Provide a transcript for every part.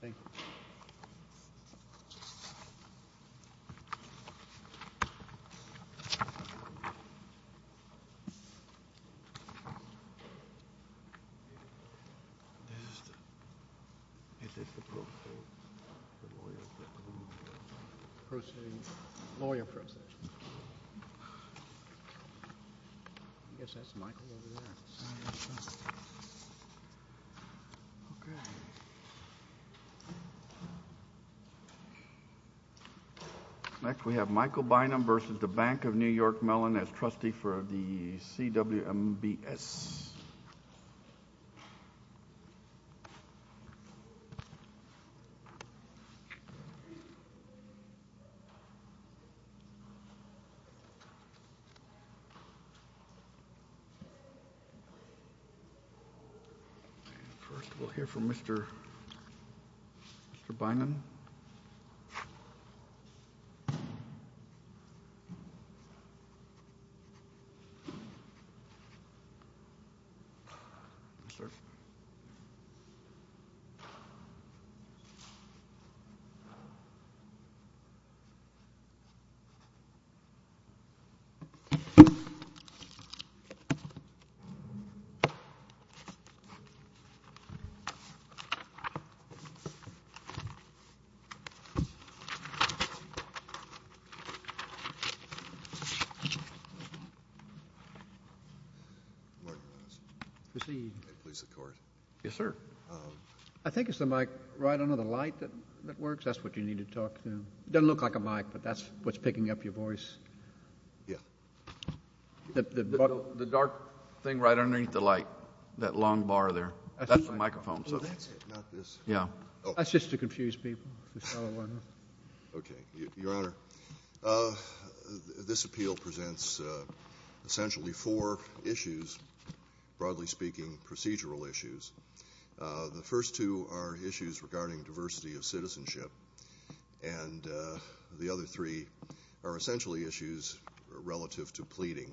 Thank you. This is the procedure, the lawyer procedure. Procedure? Lawyer procedure. I guess that's Michael over there. I guess so. Next we have Michael Bynum versus the Bank of New York Mellon as trustee for the CWMBS. First we'll hear from Mr. Bynum. I think it's the mic right under the light that works. That's what you need to talk to. It doesn't look like a mic, but that's what's picking up your voice. The dark thing right underneath the light, that long bar there, that's the microphone. That's just to confuse people. Okay. Your Honor, this appeal presents essentially four issues, broadly speaking procedural issues. And the other three are essentially issues relative to pleading.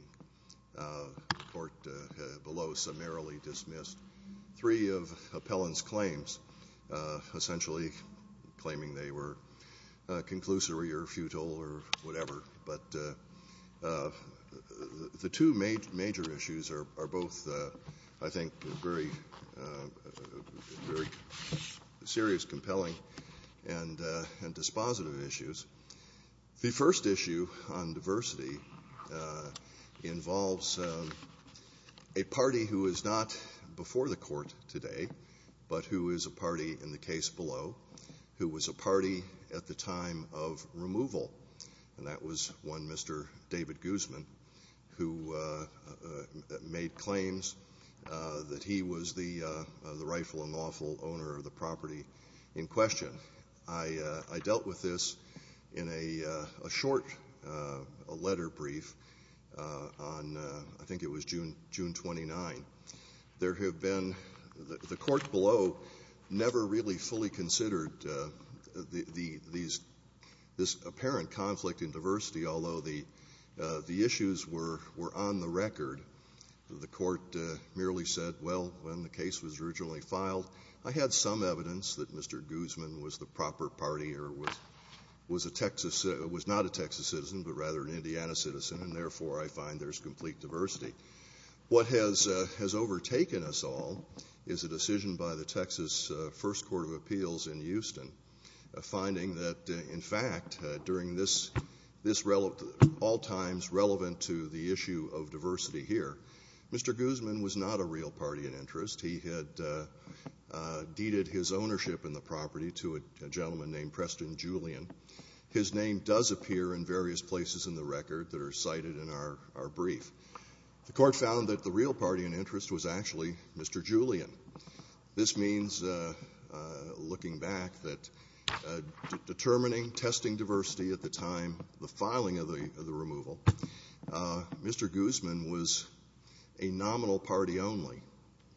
The court below summarily dismissed three of appellant's claims, essentially claiming they were conclusory or futile or whatever. But the two major issues are both, I think, very serious, compelling, and dispositive issues. The first issue on diversity involves a party who is not before the court today, but who is a party in the case below, who was a party at the time of removal. And that was one Mr. David Guzman, who made claims that he was the rightful and lawful owner of the property in question. I dealt with this in a short letter brief on, I think it was June 29. There have been, the court below never really fully considered this apparent conflict in diversity, although the issues were on the record. The court merely said, well, when the case was originally filed, I had some evidence that Mr. Guzman was the proper party or was not a Texas citizen, but rather an Indiana citizen, and therefore I find there's complete diversity. What has overtaken us all is a decision by the Texas First Court of Appeals in Houston, finding that, in fact, during this all times relevant to the issue of diversity here, Mr. Guzman was not a real party in interest. He had deeded his ownership in the property to a gentleman named Preston Julian. His name does appear in various places in the record that are cited in our brief. The court found that the real party in interest was actually Mr. Julian. This means, looking back, that determining, testing diversity at the time of the filing of the removal, Mr. Guzman was a nominal party only,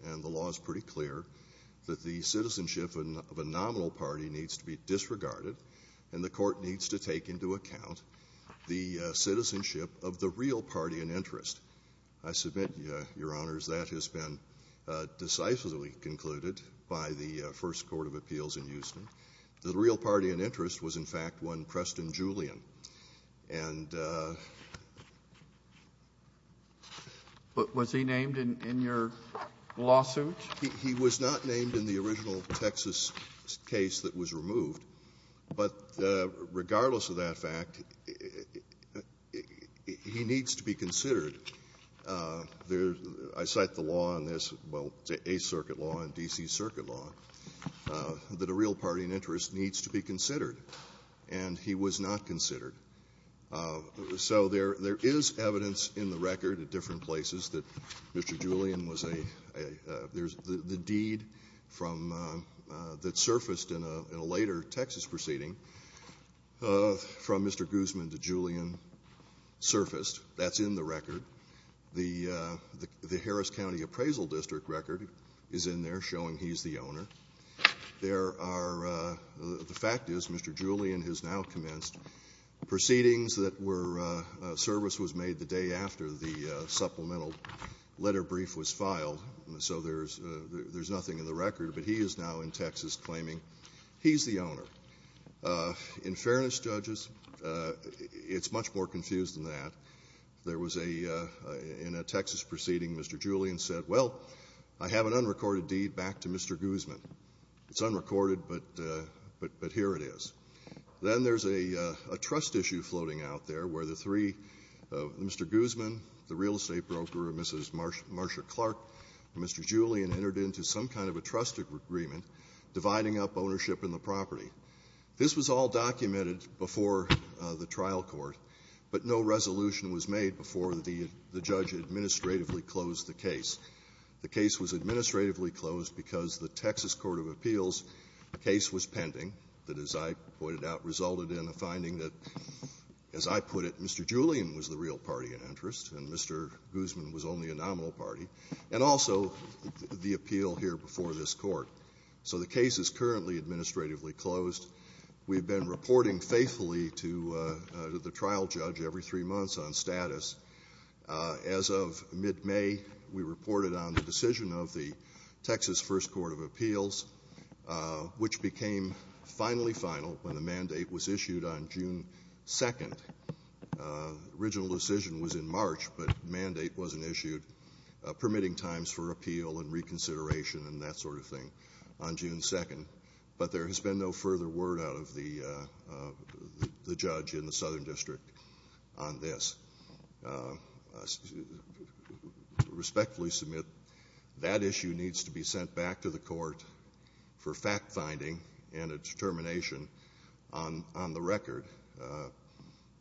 and the law is pretty clear that the citizenship of a nominal party needs to be disregarded and the court needs to take into account the citizenship of the real party in interest. I submit, Your Honors, that has been decisively concluded by the First Court of Appeals in Houston. The real party in interest was, in fact, one Preston Julian. And — But was he named in your lawsuit? He was not named in the original Texas case that was removed. But regardless of that fact, he needs to be considered. I cite the law in this, well, the Eighth Circuit law and D.C. Circuit law, that a real party in interest needs to be considered, and he was not considered. So there is evidence in the record at different places that Mr. Julian was a — there is the deed from — that surfaced in a later Texas proceeding from Mr. Guzman to Julian surfaced. That's in the record. The Harris County Appraisal District record is in there showing he's the owner. There are — the fact is Mr. Julian has now commenced proceedings that were — service was made the day after the supplemental letter brief was filed. So there's nothing in the record. But he is now in Texas claiming he's the owner. In fairness, judges, it's much more confused than that. There was a — in a Texas proceeding, Mr. Julian said, well, I have an unrecorded deed back to Mr. Guzman. It's unrecorded, but here it is. Then there's a trust issue floating out there where the three — Mr. Guzman, the real party, and Mr. Julian entered into some kind of a trust agreement dividing up ownership in the property. This was all documented before the trial court, but no resolution was made before the judge administratively closed the case. The case was administratively closed because the Texas court of appeals case was pending, that as I pointed out, resulted in a finding that, as I put it, Mr. Julian was the real party in interest and Mr. Guzman was only a nominal party, and also the appeal here before this court. So the case is currently administratively closed. We've been reporting faithfully to the trial judge every three months on status. As of mid-May, we reported on the decision of the Texas first court of appeals, which became finally final when the mandate was issued on June 2nd. The original decision was in March, but mandate wasn't issued, permitting times for appeal and reconsideration and that sort of thing on June 2nd. But there has been no further word out of the judge in the Southern District on this. I respectfully submit that issue needs to be sent back to the court for fact-finding and a determination on the record.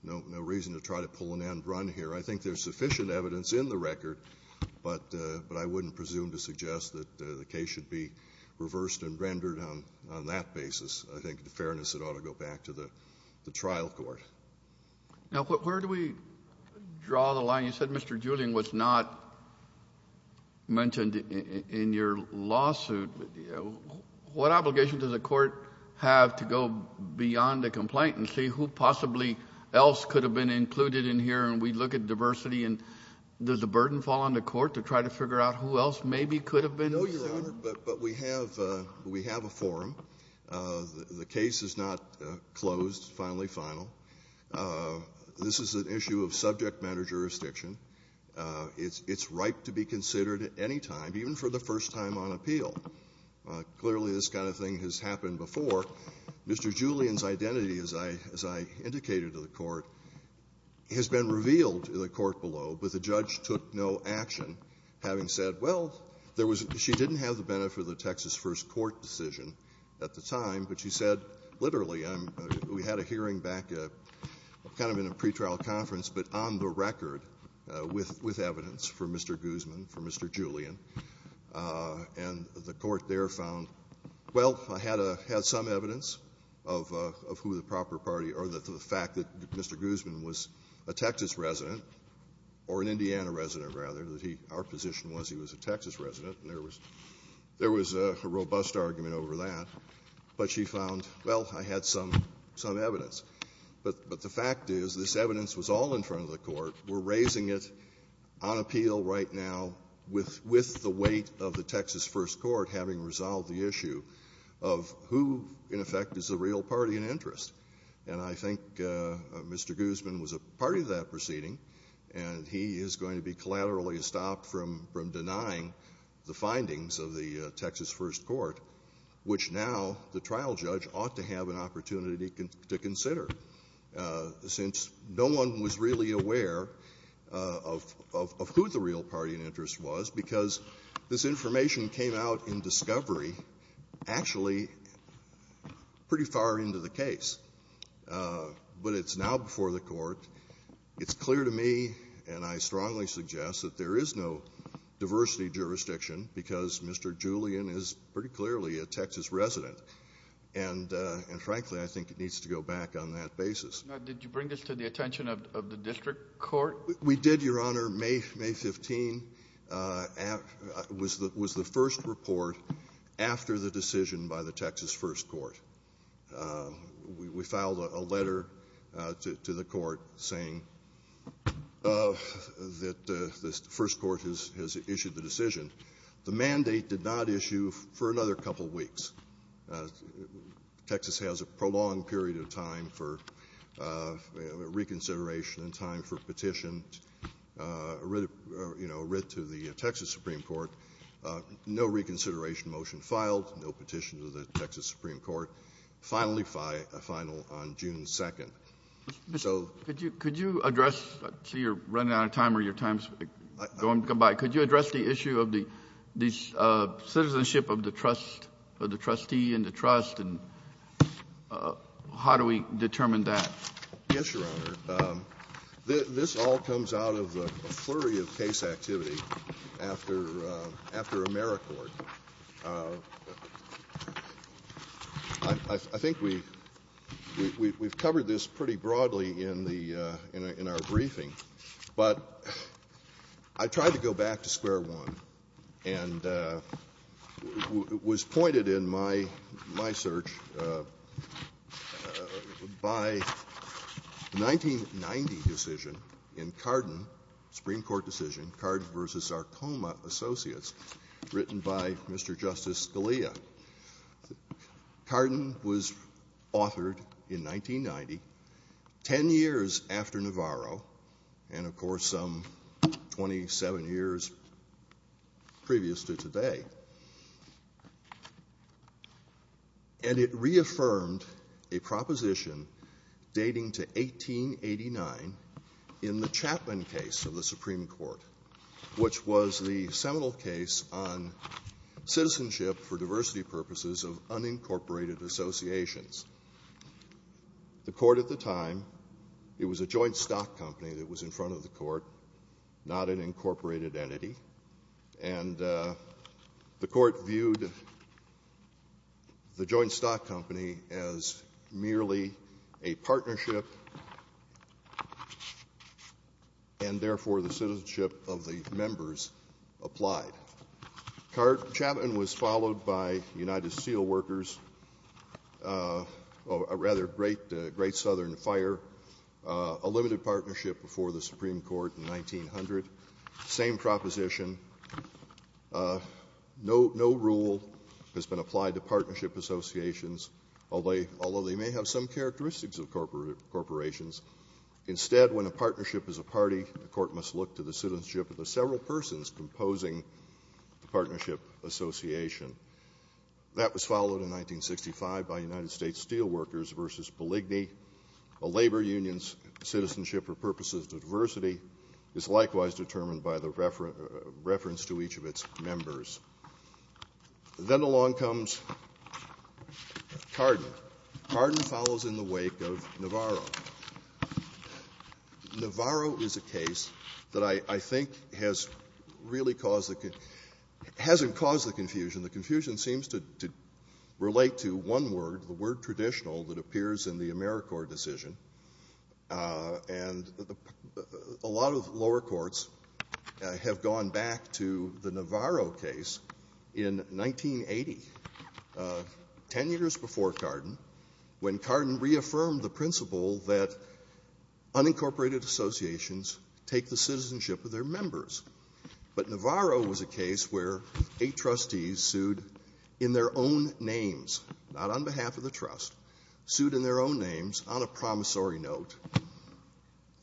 No reason to try to pull an end run here. I think there's sufficient evidence in the record, but I wouldn't presume to suggest that the case should be reversed and rendered on that basis. I think, in fairness, it ought to go back to the trial court. Now, where do we draw the line? You said Mr. Julian was not mentioned in your lawsuit. What obligation does the court have to go beyond the complaint and see who possibly else could have been included in here, and we look at diversity and does the burden fall on the court to try to figure out who else maybe could have been? No, Your Honor, but we have a forum. The case is not closed, finally final. This is an issue of subject matter jurisdiction. It's ripe to be considered at any time, even for the first time on appeal. Clearly this kind of thing has happened before. Mr. Julian's identity, as I indicated to the court, has been revealed to the court below, but the judge took no action, having said, well, she didn't have the benefit of the Texas First Court decision at the time, but she said, literally, we had a hearing back kind of in a pretrial conference, but on the record with evidence for Mr. Guzman, for Mr. Julian, and the court there found, well, I had some evidence of who the proper party or the fact that Mr. Guzman was a Texas resident, or an Indiana resident, rather. Our position was he was a Texas resident, and there was a robust argument over that, but she found, well, I had some evidence. But the fact is this evidence was all in front of the court. We're raising it on appeal right now with the weight of the Texas First Court having resolved the issue of who, in effect, is the real party in interest. And I think Mr. Guzman was a party to that proceeding, and he is going to be collaterally stopped from denying the findings of the Texas First Court, which now the trial judge ought to have an opportunity to consider, since no one was really aware of who the real party in interest was, because this information came out in discovery actually pretty far into the case. But it's now before the court. It's clear to me, and I strongly suggest, that there is no diversity jurisdiction, because Mr. Julian is pretty clearly a Texas resident. And, frankly, I think it needs to go back on that basis. Now, did you bring this to the attention of the district court? We did, Your Honor. May 15 was the first report after the decision by the Texas First Court. We filed a letter to the court saying that the First Court has issued the decision. The mandate did not issue for another couple of weeks. Texas has a prolonged period of time for reconsideration and time for petition, writ to the Texas Supreme Court. No reconsideration motion filed, no petition to the Texas Supreme Court. Finally filed on June 2nd. Mr. Bishop, could you address the issue of the citizenship of the trustee and the trust, and how do we determine that? Yes, Your Honor. This all comes out of a flurry of case activity after AmeriCorps. I think we've covered this pretty broadly in our briefing, but I tried to go back to square one and was pointed in my search by the 1990 decision in Carden, Supreme by Mr. Justice Scalia. Carden was authored in 1990, 10 years after Navarro, and of course some 27 years previous to today. And it reaffirmed a proposition dating to 1889 in the Chapman case of the Supreme Court, which was the seminal case on citizenship for diversity purposes of unincorporated associations. The court at the time, it was a joint stock company that was in front of the court, not an incorporated entity, and the court viewed the joint stock company as merely a partnership, and therefore the citizenship of the members applied. Chapman was followed by United Steel Workers, or rather Great Southern Fire, a limited partnership before the Supreme Court in 1900, same proposition. No rule has been applied to partnership associations, although they may have some characteristics of corporations. Instead, when a partnership is a party, the court must look to the citizenship of the several persons composing the partnership association. That was followed in 1965 by United States Steel Workers v. Polygny. A labor union's citizenship for purposes of diversity is likewise determined by the reference to each of its members. Then along comes Cardin. Cardin follows in the wake of Navarro. Navarro is a case that I think has really caused the — hasn't caused the confusion. The confusion seems to relate to one word, the word traditional, that appears in the AmeriCorps decision. And a lot of lower courts have gone back to the Navarro case in 1980, 10 years before Cardin, when Cardin reaffirmed the principle that unincorporated associations take the citizenship of their members. But Navarro was a case where eight trustees sued in their own names, not on behalf of the trust, sued in their own names on a promissory note.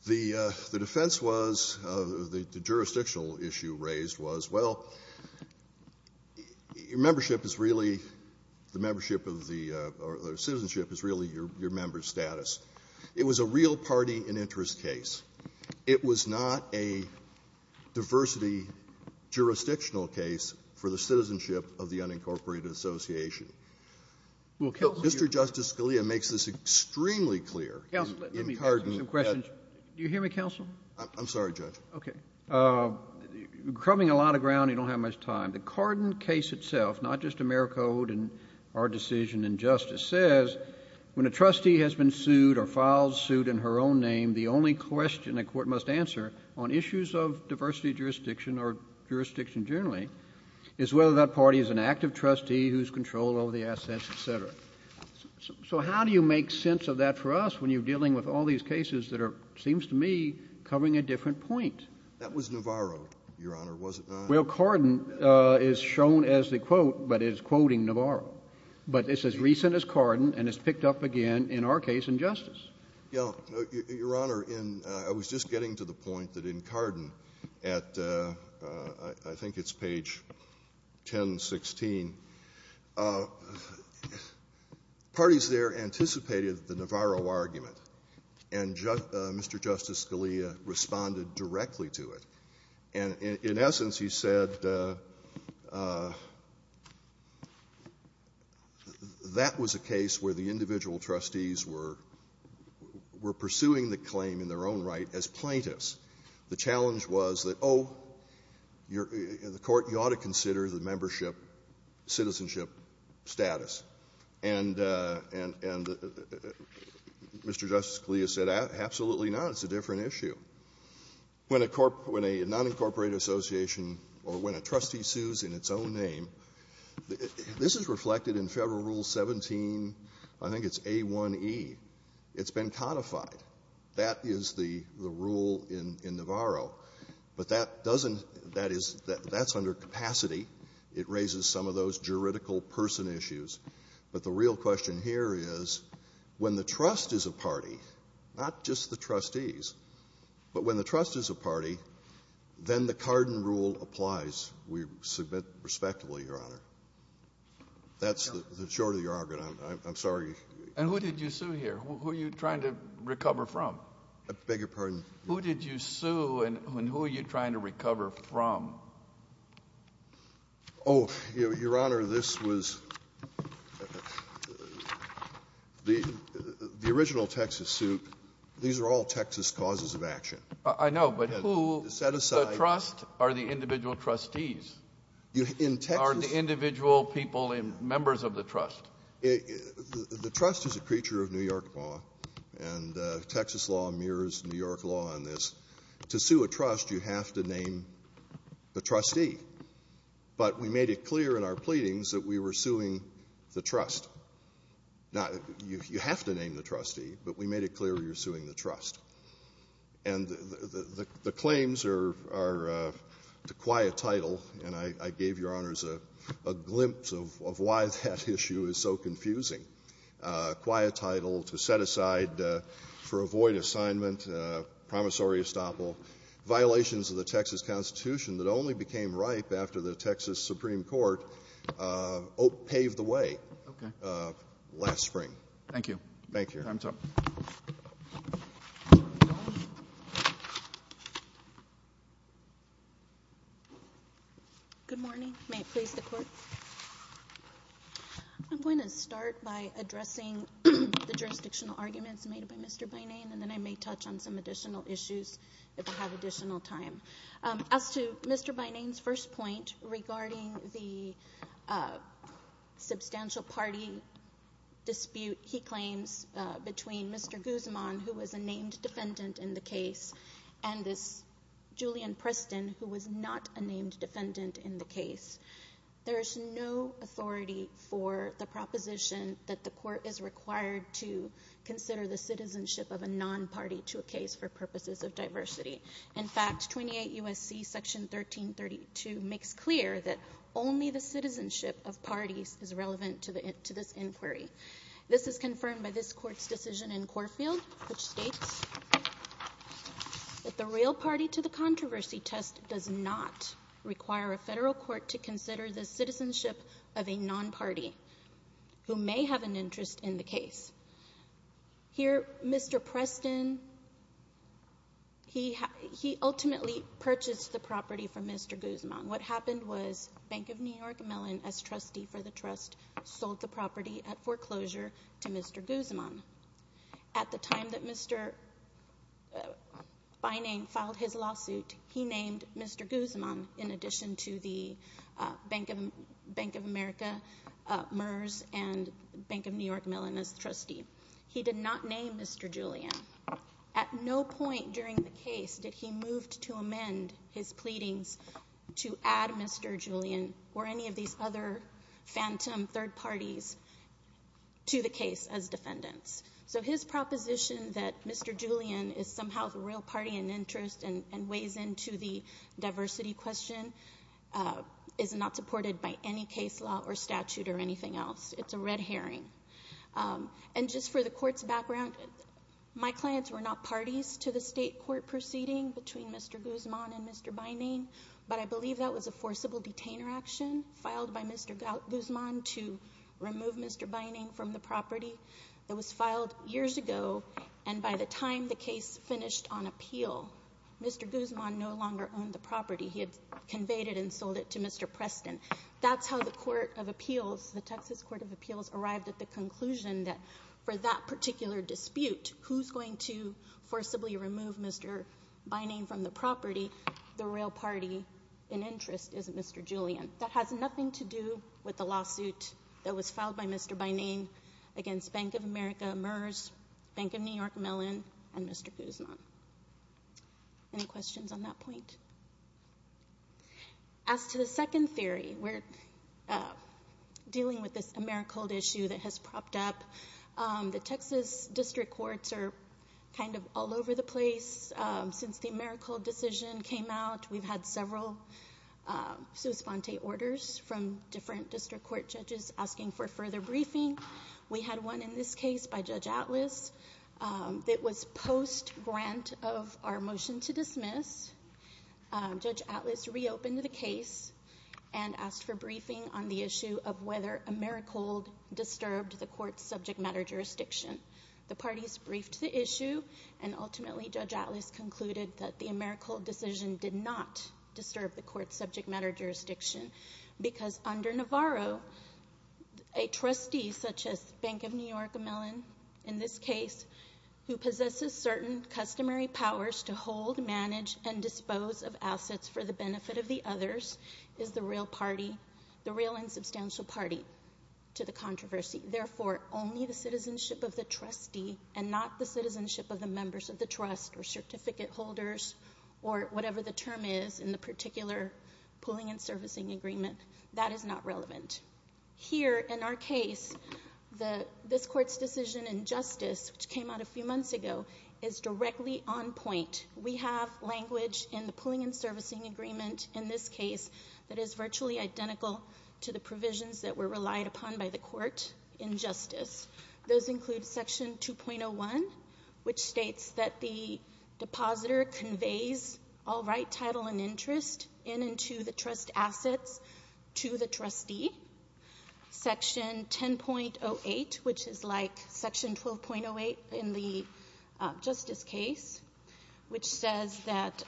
The defense was — the jurisdictional issue raised was, well, membership is really — the membership of the — or citizenship is really your member's status. It was a real party and interest case. It was not a diversity jurisdictional case for the citizenship of the unincorporated association. Mr. Justice Scalia makes this extremely clear in Cardin. Counsel, let me ask you some questions. Do you hear me, counsel? I'm sorry, Judge. Okay. Crumbing a lot of ground, you don't have much time. The Cardin case itself, not just AmeriCorps and our decision in justice, says when a trustee has been sued or files suit in her own name, the only question a court must answer on issues of diversity jurisdiction or jurisdiction generally is whether that party is an active trustee who's controlled over the assets, et cetera. So how do you make sense of that for us when you're dealing with all these cases that are, it seems to me, covering a different point? That was Navarro, Your Honor, was it not? Well, Cardin is shown as the quote, but it's quoting Navarro. But it's as recent as Cardin, and it's picked up again in our case in justice. Your Honor, I was just getting to the point that in Cardin at, I think it's page 1016, parties there anticipated the Navarro argument, and Mr. Justice Scalia responded directly to it. And in essence, he said that was a case where the individual trustees were pursuing the claim in their own right as plaintiffs. The challenge was that, oh, the court, you ought to consider the membership citizenship status. And Mr. Justice Scalia said, absolutely not. It's a different issue. When a nonincorporated association or when a trustee sues in its own name, this is reflected in Federal Rule 17, I think it's A1E. It's been codified. That is the rule in Navarro. But that doesn't, that is, that's under capacity. It raises some of those juridical person issues. But the real question here is when the trust is a party, not just the trustees, but when the trust is a party, then the Cardin rule applies. We submit respectfully, Your Honor. That's the short of the argument. I'm sorry. And who did you sue here? Who are you trying to recover from? I beg your pardon? Who did you sue and who are you trying to recover from? Oh, Your Honor, this was the original Texas suit. These are all Texas causes of action. I know, but who? Set aside. The trust are the individual trustees. In Texas? Are the individual people members of the trust. The trust is a creature of New York law, and Texas law mirrors New York law on this. To sue a trust, you have to name the trustee. But we made it clear in our pleadings that we were suing the trust. Now, you have to name the trustee, but we made it clear we were suing the trust. And the claims are to quiet title, and I gave Your Honors a glimpse of why that issue is so confusing. Quiet title, to set aside for a void assignment, promissory estoppel, violations of the Texas Constitution that only became ripe after the Texas Supreme Court paved the way last spring. Thank you. Thank you. Good morning. May it please the Court? I'm going to start by addressing the jurisdictional arguments made by Mr. Bynane, and then I may touch on some additional issues if I have additional time. As to Mr. Bynane's first point regarding the substantial party dispute he claims between Mr. Guzman, who was a named defendant in the case, and this Julian Preston, who was not a named defendant in the case, there is no authority for the proposition that the Court is required to consider the citizenship of a non-party to a case for purposes of diversity. In fact, 28 U.S.C. Section 1332 makes clear that only the citizenship of parties is relevant to this inquiry. This is confirmed by this Court's decision in Corfield, which states that the real party to the controversy test does not require a federal court to consider the citizenship of a non-party who may have an interest in the case. Here, Mr. Preston, he ultimately purchased the property from Mr. Guzman. What happened was Bank of New York Mellon, as trustee for the trust, sold the property at foreclosure to Mr. Guzman. At the time that Mr. Bynane filed his lawsuit, he named Mr. Guzman in addition to the Bank of America, MERS, and Bank of New York Mellon as trustee. He did not name Mr. Julian. At no point during the case did he move to amend his pleadings to add Mr. Julian or any of these other phantom third parties to the case as defendants. So his proposition that Mr. Julian is somehow the real party in interest and weighs into the diversity question is not supported by any case law or statute or anything else. It's a red herring. Just for the Court's background, my clients were not parties to the state court proceeding between Mr. Guzman and Mr. Bynane, but I believe that was a forcible detainer action filed by Mr. Guzman to remove Mr. Bynane from the property. It was filed years ago, and by the time the case finished on appeal, Mr. Guzman no longer owned the property. He had conveyed it and sold it to Mr. Preston. That's how the Texas Court of Appeals arrived at the conclusion that for that particular dispute, who's going to forcibly remove Mr. Bynane from the property? The real party in interest is Mr. Julian. That has nothing to do with the lawsuit that was filed by Mr. Bynane against Bank of America, MERS, Bank of New York Mellon, and Mr. Guzman. Any questions on that point? As to the second theory, we're dealing with this AmeriCold issue that has propped up. The Texas district courts are kind of all over the place. Since the AmeriCold decision came out, we've had several sua sponte orders from different district court judges asking for further briefing. We had one in this case by Judge Atlas that was post-grant of our motion to dismiss. Judge Atlas reopened the case and asked for briefing on the issue of whether AmeriCold disturbed the court's subject matter jurisdiction. The parties briefed the issue, and ultimately Judge Atlas concluded that the AmeriCold decision did not disturb the court's subject matter jurisdiction because under Navarro, a trustee such as Bank of New York Mellon, in this case, who possesses certain customary powers to hold, manage, and dispose of assets for the benefit of the others, is the real party, the real and substantial party to the controversy. Therefore, only the citizenship of the trustee and not the citizenship of the members of the trust or certificate holders or whatever the term is in the particular pooling and servicing agreement, that is not relevant. Here, in our case, this court's decision in justice, which came out a few months ago, is directly on point. We have language in the pooling and servicing agreement in this case that is virtually identical to the provisions that were relied upon by the court in justice. Those include section 2.01, which states that the depositor conveys all right, title, and property, section 10.08, which is like section 12.08 in the justice case, which says that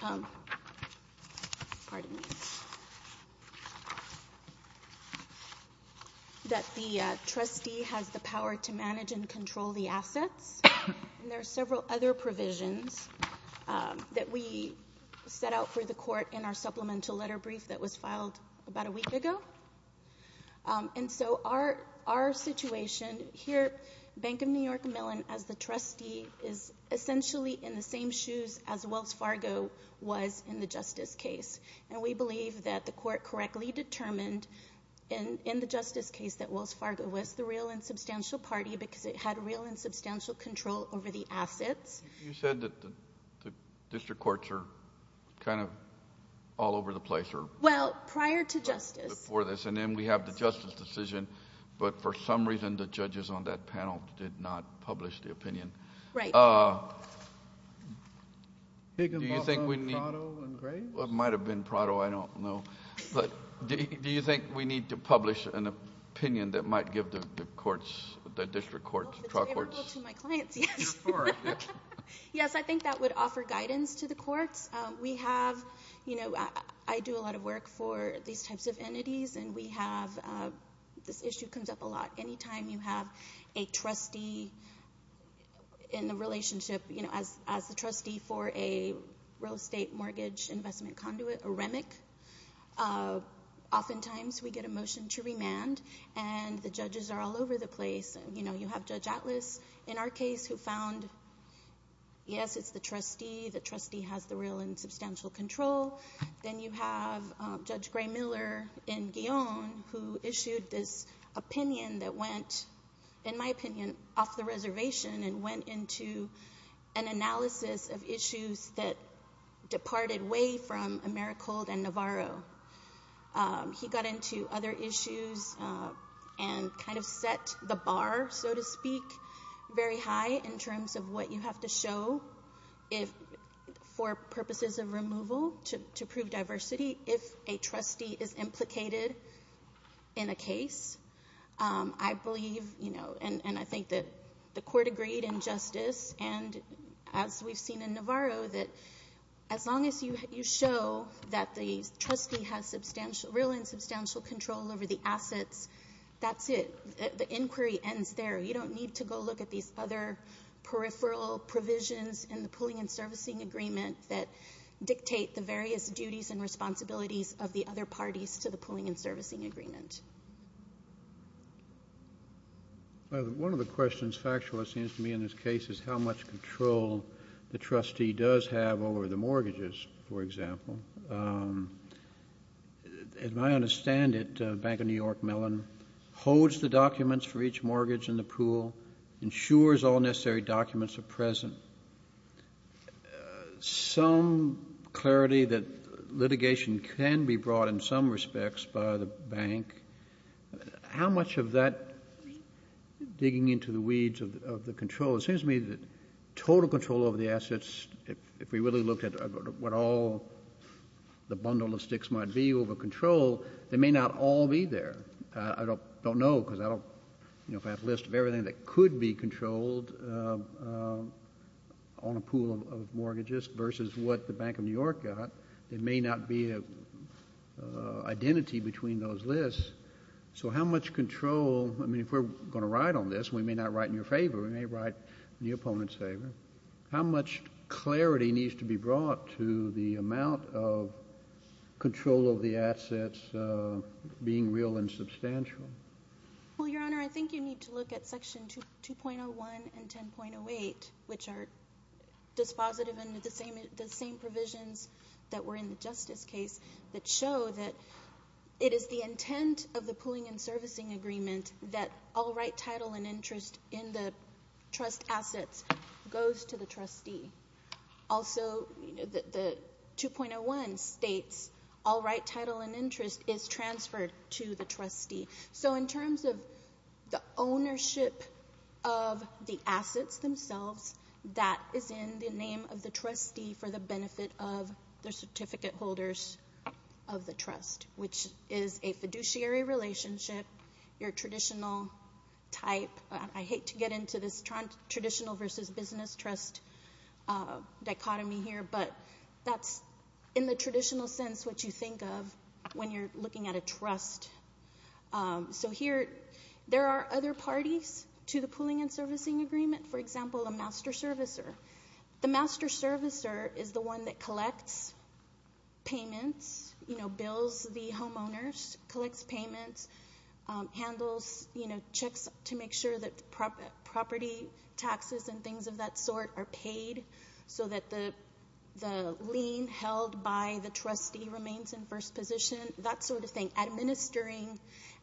the trustee has the power to manage and control the assets. There are several other provisions that we set out for the court in our supplemental letter brief that was filed about a week ago. Our situation here, Bank of New York Mellon, as the trustee, is essentially in the same shoes as Wells Fargo was in the justice case. We believe that the court correctly determined in the justice case that Wells Fargo was the real and substantial party because it had real and substantial control over the assets. You said that the district courts are kind of all over the place or... Well, prior to justice. Before this, and then we have the justice decision, but for some reason the judges on that panel did not publish the opinion. Do you think we need... Higginbotham, Prado, and Graves? It might have been Prado. I don't know. Do you think we need to publish an opinion that might give the courts, the district courts, the truck courts... Yes, I think that would offer guidance to the courts. We have... I do a lot of work for these types of entities, and we have... this issue comes up a lot. Anytime you have a trustee in the relationship, as the trustee for a real estate mortgage investment conduit, a REMIC, oftentimes we get a motion to remand, and the judges are all over the place. You have Judge Atlas in our case who found, yes, it's the trustee. The trustee has the real and substantial control. Then you have Judge Gray-Miller in Guillaume who issued this opinion that went, in my opinion, off the reservation and went into an analysis of issues that departed way from Americold and Navarro. He got into other issues and kind of set the bar, so to speak, very high in terms of what you have to show for purposes of removal to prove diversity if a trustee is implicated in a case. I believe, and I think that the court agreed in justice, and as we've seen in Navarro, that as long as you show that the trustee has real and substantial control over the assets, that's it. The inquiry ends there. You don't need to go look at these other peripheral provisions in the pooling and servicing agreement that dictate the various duties and responsibilities of the other parties to the pooling and servicing agreement. One of the questions factually seems to me in this case is how much control the trustee does have over the mortgages, for example. As I understand it, Bank of New York Mellon holds the documents for each mortgage in the pool, ensures all necessary documents are present, some clarity that litigation can be brought in some respects by the bank. How much of that digging into the weeds of the control? It seems to me that total control over the assets, if we really looked at what all the bundle of sticks might be over control, they may not all be there. I don't know, because I don't have a list of everything that could be controlled on the pool of mortgages versus what the Bank of New York got. There may not be an identity between those lists. So how much control, I mean, if we're going to ride on this, we may not ride in your favor, we may ride in the opponent's favor. How much clarity needs to be brought to the amount of control of the assets being real and substantial? Well, Your Honor, I think you need to look at Section 2.01 and 10.08, which are dispositive and the same provisions that were in the Justice case that show that it is the intent of the pooling and servicing agreement that all right title and interest in the trust assets goes to the trustee. Also, the 2.01 states all right title and interest is transferred to the trustee. So in terms of the ownership of the assets themselves, that is in the name of the trustee for the benefit of the certificate holders of the trust, which is a fiduciary relationship. I hate to get into this traditional versus business trust dichotomy here, but that's in the traditional sense what you think of when you're looking at a trust. So here, there are other parties to the pooling and servicing agreement. For example, a master servicer. The master servicer is the one that collects payments, you know, bills the homeowners, collects payments, handles, you know, checks to make sure that property taxes and things of that sort are paid so that the lien held by the trustee remains in first position, that sort of thing, administering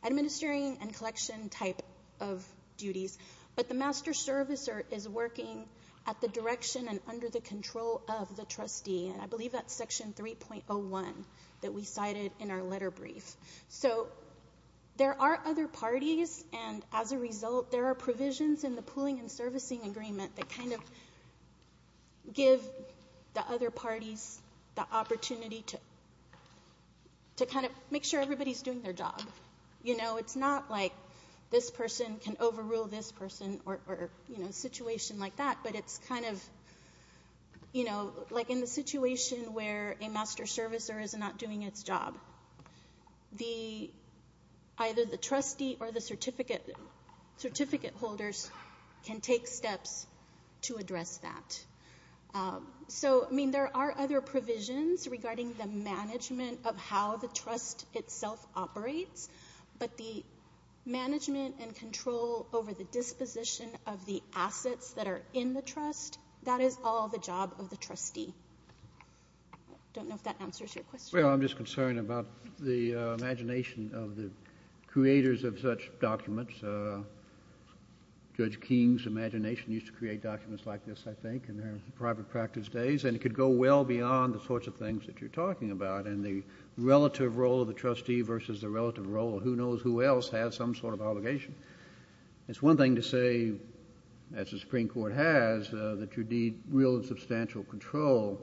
and collection type of duties. But the master servicer is working at the direction and under the control of the trustee, and I believe that's section 3.01 that we cited in our letter brief. So there are other parties, and as a result, there are provisions in the pooling and servicing agreement that kind of give the other parties the opportunity to kind of make sure everybody's doing their job. You know, it's not like this person can overrule this person or, you know, a situation like that, but it's kind of, you know, like in the situation where a master servicer is not doing its job, either the trustee or the certificate holders can take steps to address that. So, I mean, there are other provisions regarding the management of how the trust itself operates, but the management and control over the disposition of the assets that are in the trust, that is all the job of the trustee. I don't know if that answers your question. Well, I'm just concerned about the imagination of the creators of such documents. Judge King's imagination used to create documents like this, I think, in their private practice days, and it could go well beyond the sorts of things that you're talking about, and the relative role of the trustee versus the relative role of who knows who else has some sort of obligation. It's one thing to say, as the Supreme Court has, that you need real and substantial control,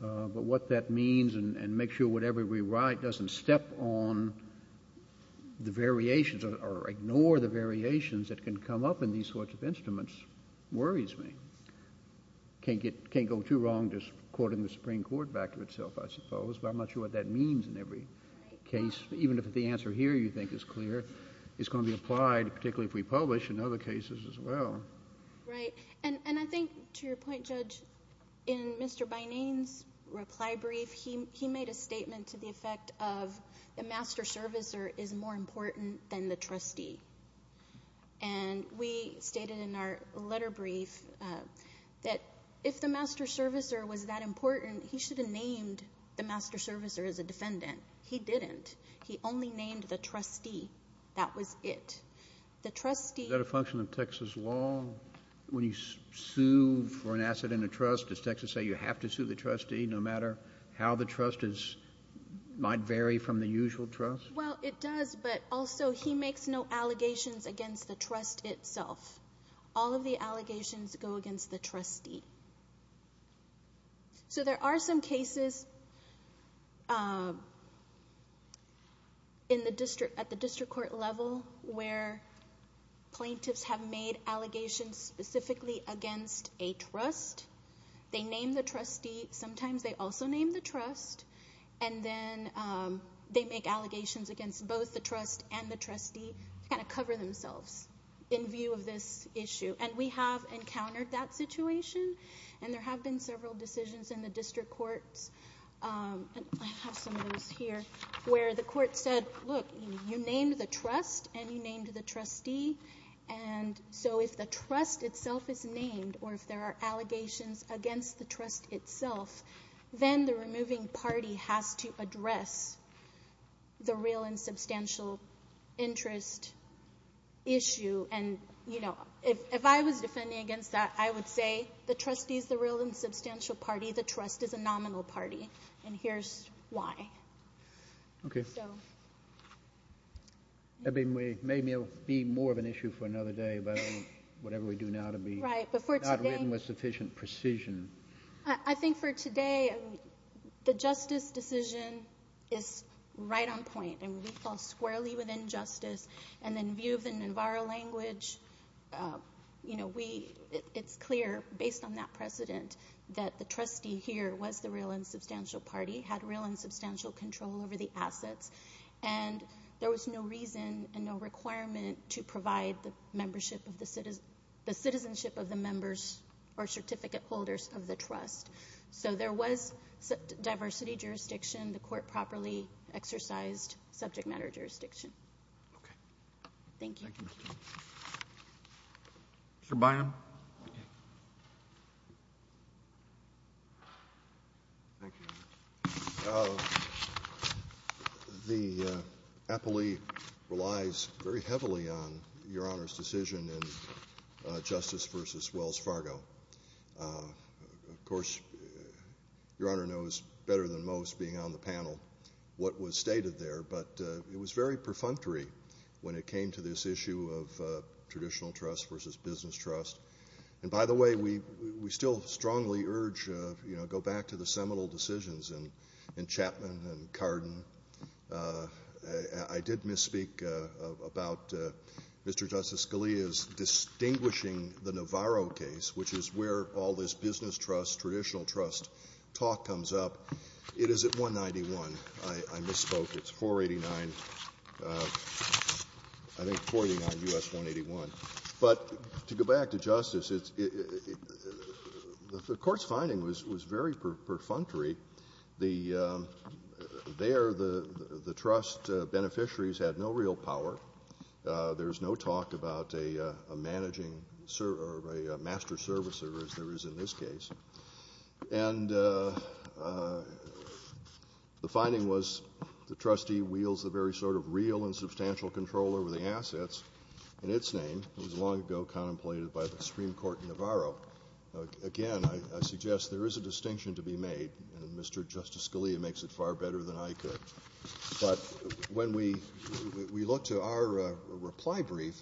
but what that means and make sure whatever we write doesn't step on the variations or ignore the variations that can come up in these sorts of instruments worries me. I can't go too wrong just quoting the Supreme Court back to itself, I suppose, but I'm not sure what that means in every case, even if the answer here you think is clear. It's going to be applied, particularly if we publish in other cases as well. Right, and I think, to your point, Judge, in Mr. Bynane's reply brief, he made a statement to the effect of the master servicer is more important than the trustee, and we stated in our letter brief that if the master servicer was that important, he should have named the master servicer as a defendant. He didn't. He only named the trustee. That was it. Is that a function of Texas law? When you sue for an asset in a trust, does Texas say you have to sue the trustee no matter how the trust might vary from the usual trust? Well, it does, but also he makes no allegations against the trust itself. All of the allegations go against the trustee. So there are some cases at the district court level where plaintiffs have made allegations specifically against a trust. They name the trustee. Sometimes they also name the trust. And then they make allegations against both the trust and the trustee to kind of cover themselves in view of this issue, and we have encountered that situation, and there have been several decisions in the district courts. I have some of those here where the court said, look, you named the trust and you named the trustee, and so if the trust itself is named or if there are allegations against the trust itself, then the removing party has to address the real and substantial interest issue. If I was defending against that, I would say the trustee is the real and substantial party, the trust is a nominal party, and here's why. Okay. Maybe it will be more of an issue for another day, but whatever we do now to be not written with sufficient precision. I think for today, the justice decision is right on point, and we fall squarely within justice. And in view of the Navarro language, you know, it's clear based on that precedent that the trustee here was the real and substantial party, had real and substantial control over the assets, and there was no reason and no requirement to provide the citizenship of the members or certificate holders of the trust. So there was diversity jurisdiction. The court properly exercised subject matter jurisdiction. Okay. Thank you. Mr. Bynum. Thank you. The appellee relies very heavily on Your Honor's decision in Justice v. Wells Fargo. Of course, Your Honor knows better than most being on the panel what was stated there, but it was very perfunctory when it came to this issue of traditional trust versus business trust. And, by the way, we still strongly urge, you know, go back to the seminal decisions in Chapman and Cardin. I did misspeak about Mr. Justice Scalia's distinguishing the Navarro case, which is where all this business trust, traditional trust talk comes up. It is at 191. I misspoke. It's 489, I think 489 U.S. 181. But to go back to Justice, the court's finding was very perfunctory. There the trust beneficiaries had no real power. There was no talk about a managing or a master servicer, as there is in this case. And the finding was the trustee wields the very sort of real and substantial control over the assets in its name. It was long ago contemplated by the Supreme Court in Navarro. Again, I suggest there is a distinction to be made, and Mr. Justice Scalia makes it far better than I could. But when we look to our reply brief,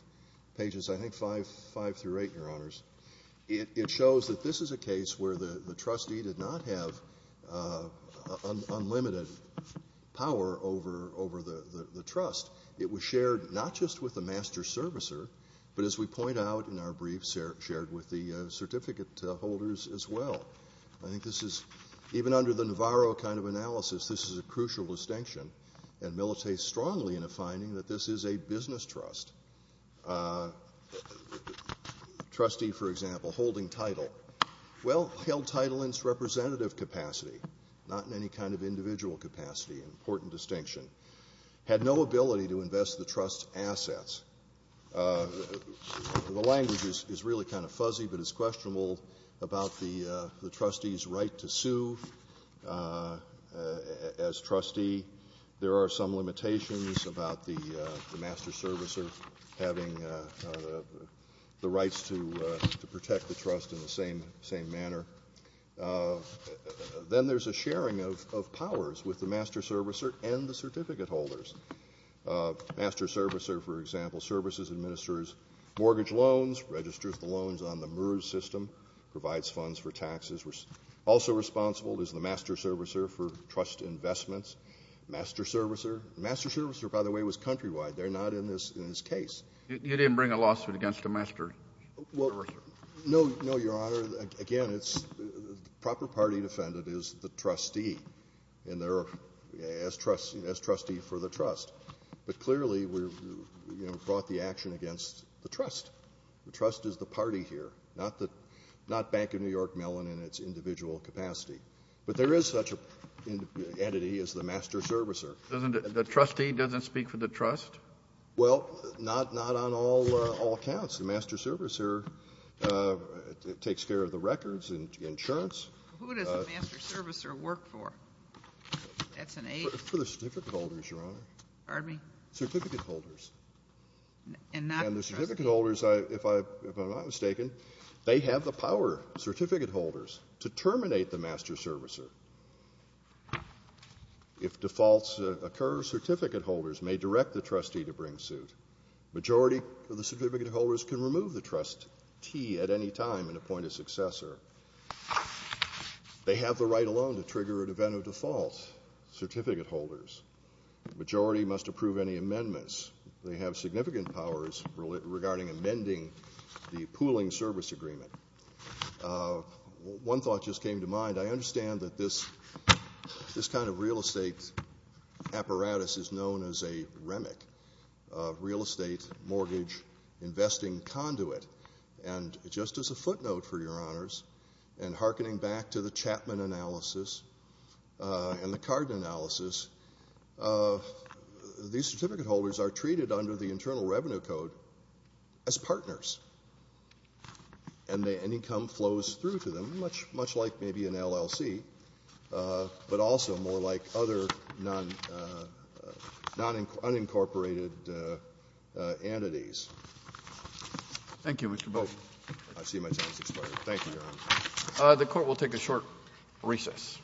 pages I think five through eight, Your Honors, it shows that this is a case where the trustee did not have unlimited power over the trust. It was shared not just with the master servicer, but as we point out in our brief, shared with the certificate holders as well. I think this is, even under the Navarro kind of analysis, this is a crucial distinction, and Militai strongly in a finding that this is a business trust. Trustee, for example, holding title. Well, held title in its representative capacity, not in any kind of individual capacity, an important distinction. Had no ability to invest the trust's assets. The language is really kind of fuzzy, but it's questionable about the trustee's right to sue as trustee. There are some limitations about the master servicer having the rights to protect the trust in the same manner. Then there's a sharing of powers with the master servicer and the certificate holders. Master servicer, for example, services, administers mortgage loans, registers the loans on the MERS system, provides funds for taxes, also responsible is the master servicer for trust investments. Master servicer. Master servicer, by the way, was countrywide. They're not in this case. You didn't bring a lawsuit against a master servicer? No, Your Honor. Again, the proper party defendant is the trustee, as trustee for the trust. But clearly we brought the action against the trust. The trust is the party here, not Bank of New York Mellon in its individual capacity. But there is such an entity as the master servicer. The trustee doesn't speak for the trust? Well, not on all accounts. The master servicer takes care of the records and insurance. Who does the master servicer work for? That's an A. For the certificate holders, Your Honor. Pardon me? Certificate holders. And the certificate holders, if I'm not mistaken, they have the power, certificate holders, to terminate the master servicer. If defaults occur, certificate holders may direct the trustee to bring suit. Majority of the certificate holders can remove the trustee at any time and appoint a successor. They have the right alone to trigger an event of default, certificate holders. Majority must approve any amendments. They have significant powers regarding amending the pooling service agreement. One thought just came to mind. I understand that this kind of real estate apparatus is known as a REMIC, real estate mortgage investing conduit. And just as a footnote for Your Honors, and hearkening back to the Chapman analysis and the Cardin analysis, these certificate holders are treated under the Internal Revenue Code as partners. And income flows through to them, much like maybe an LLC, but also more like other non-incorporated entities. Thank you, Mr. Boat. I see my time has expired. Thank you, Your Honor. The Court will take a short recess. Thank you.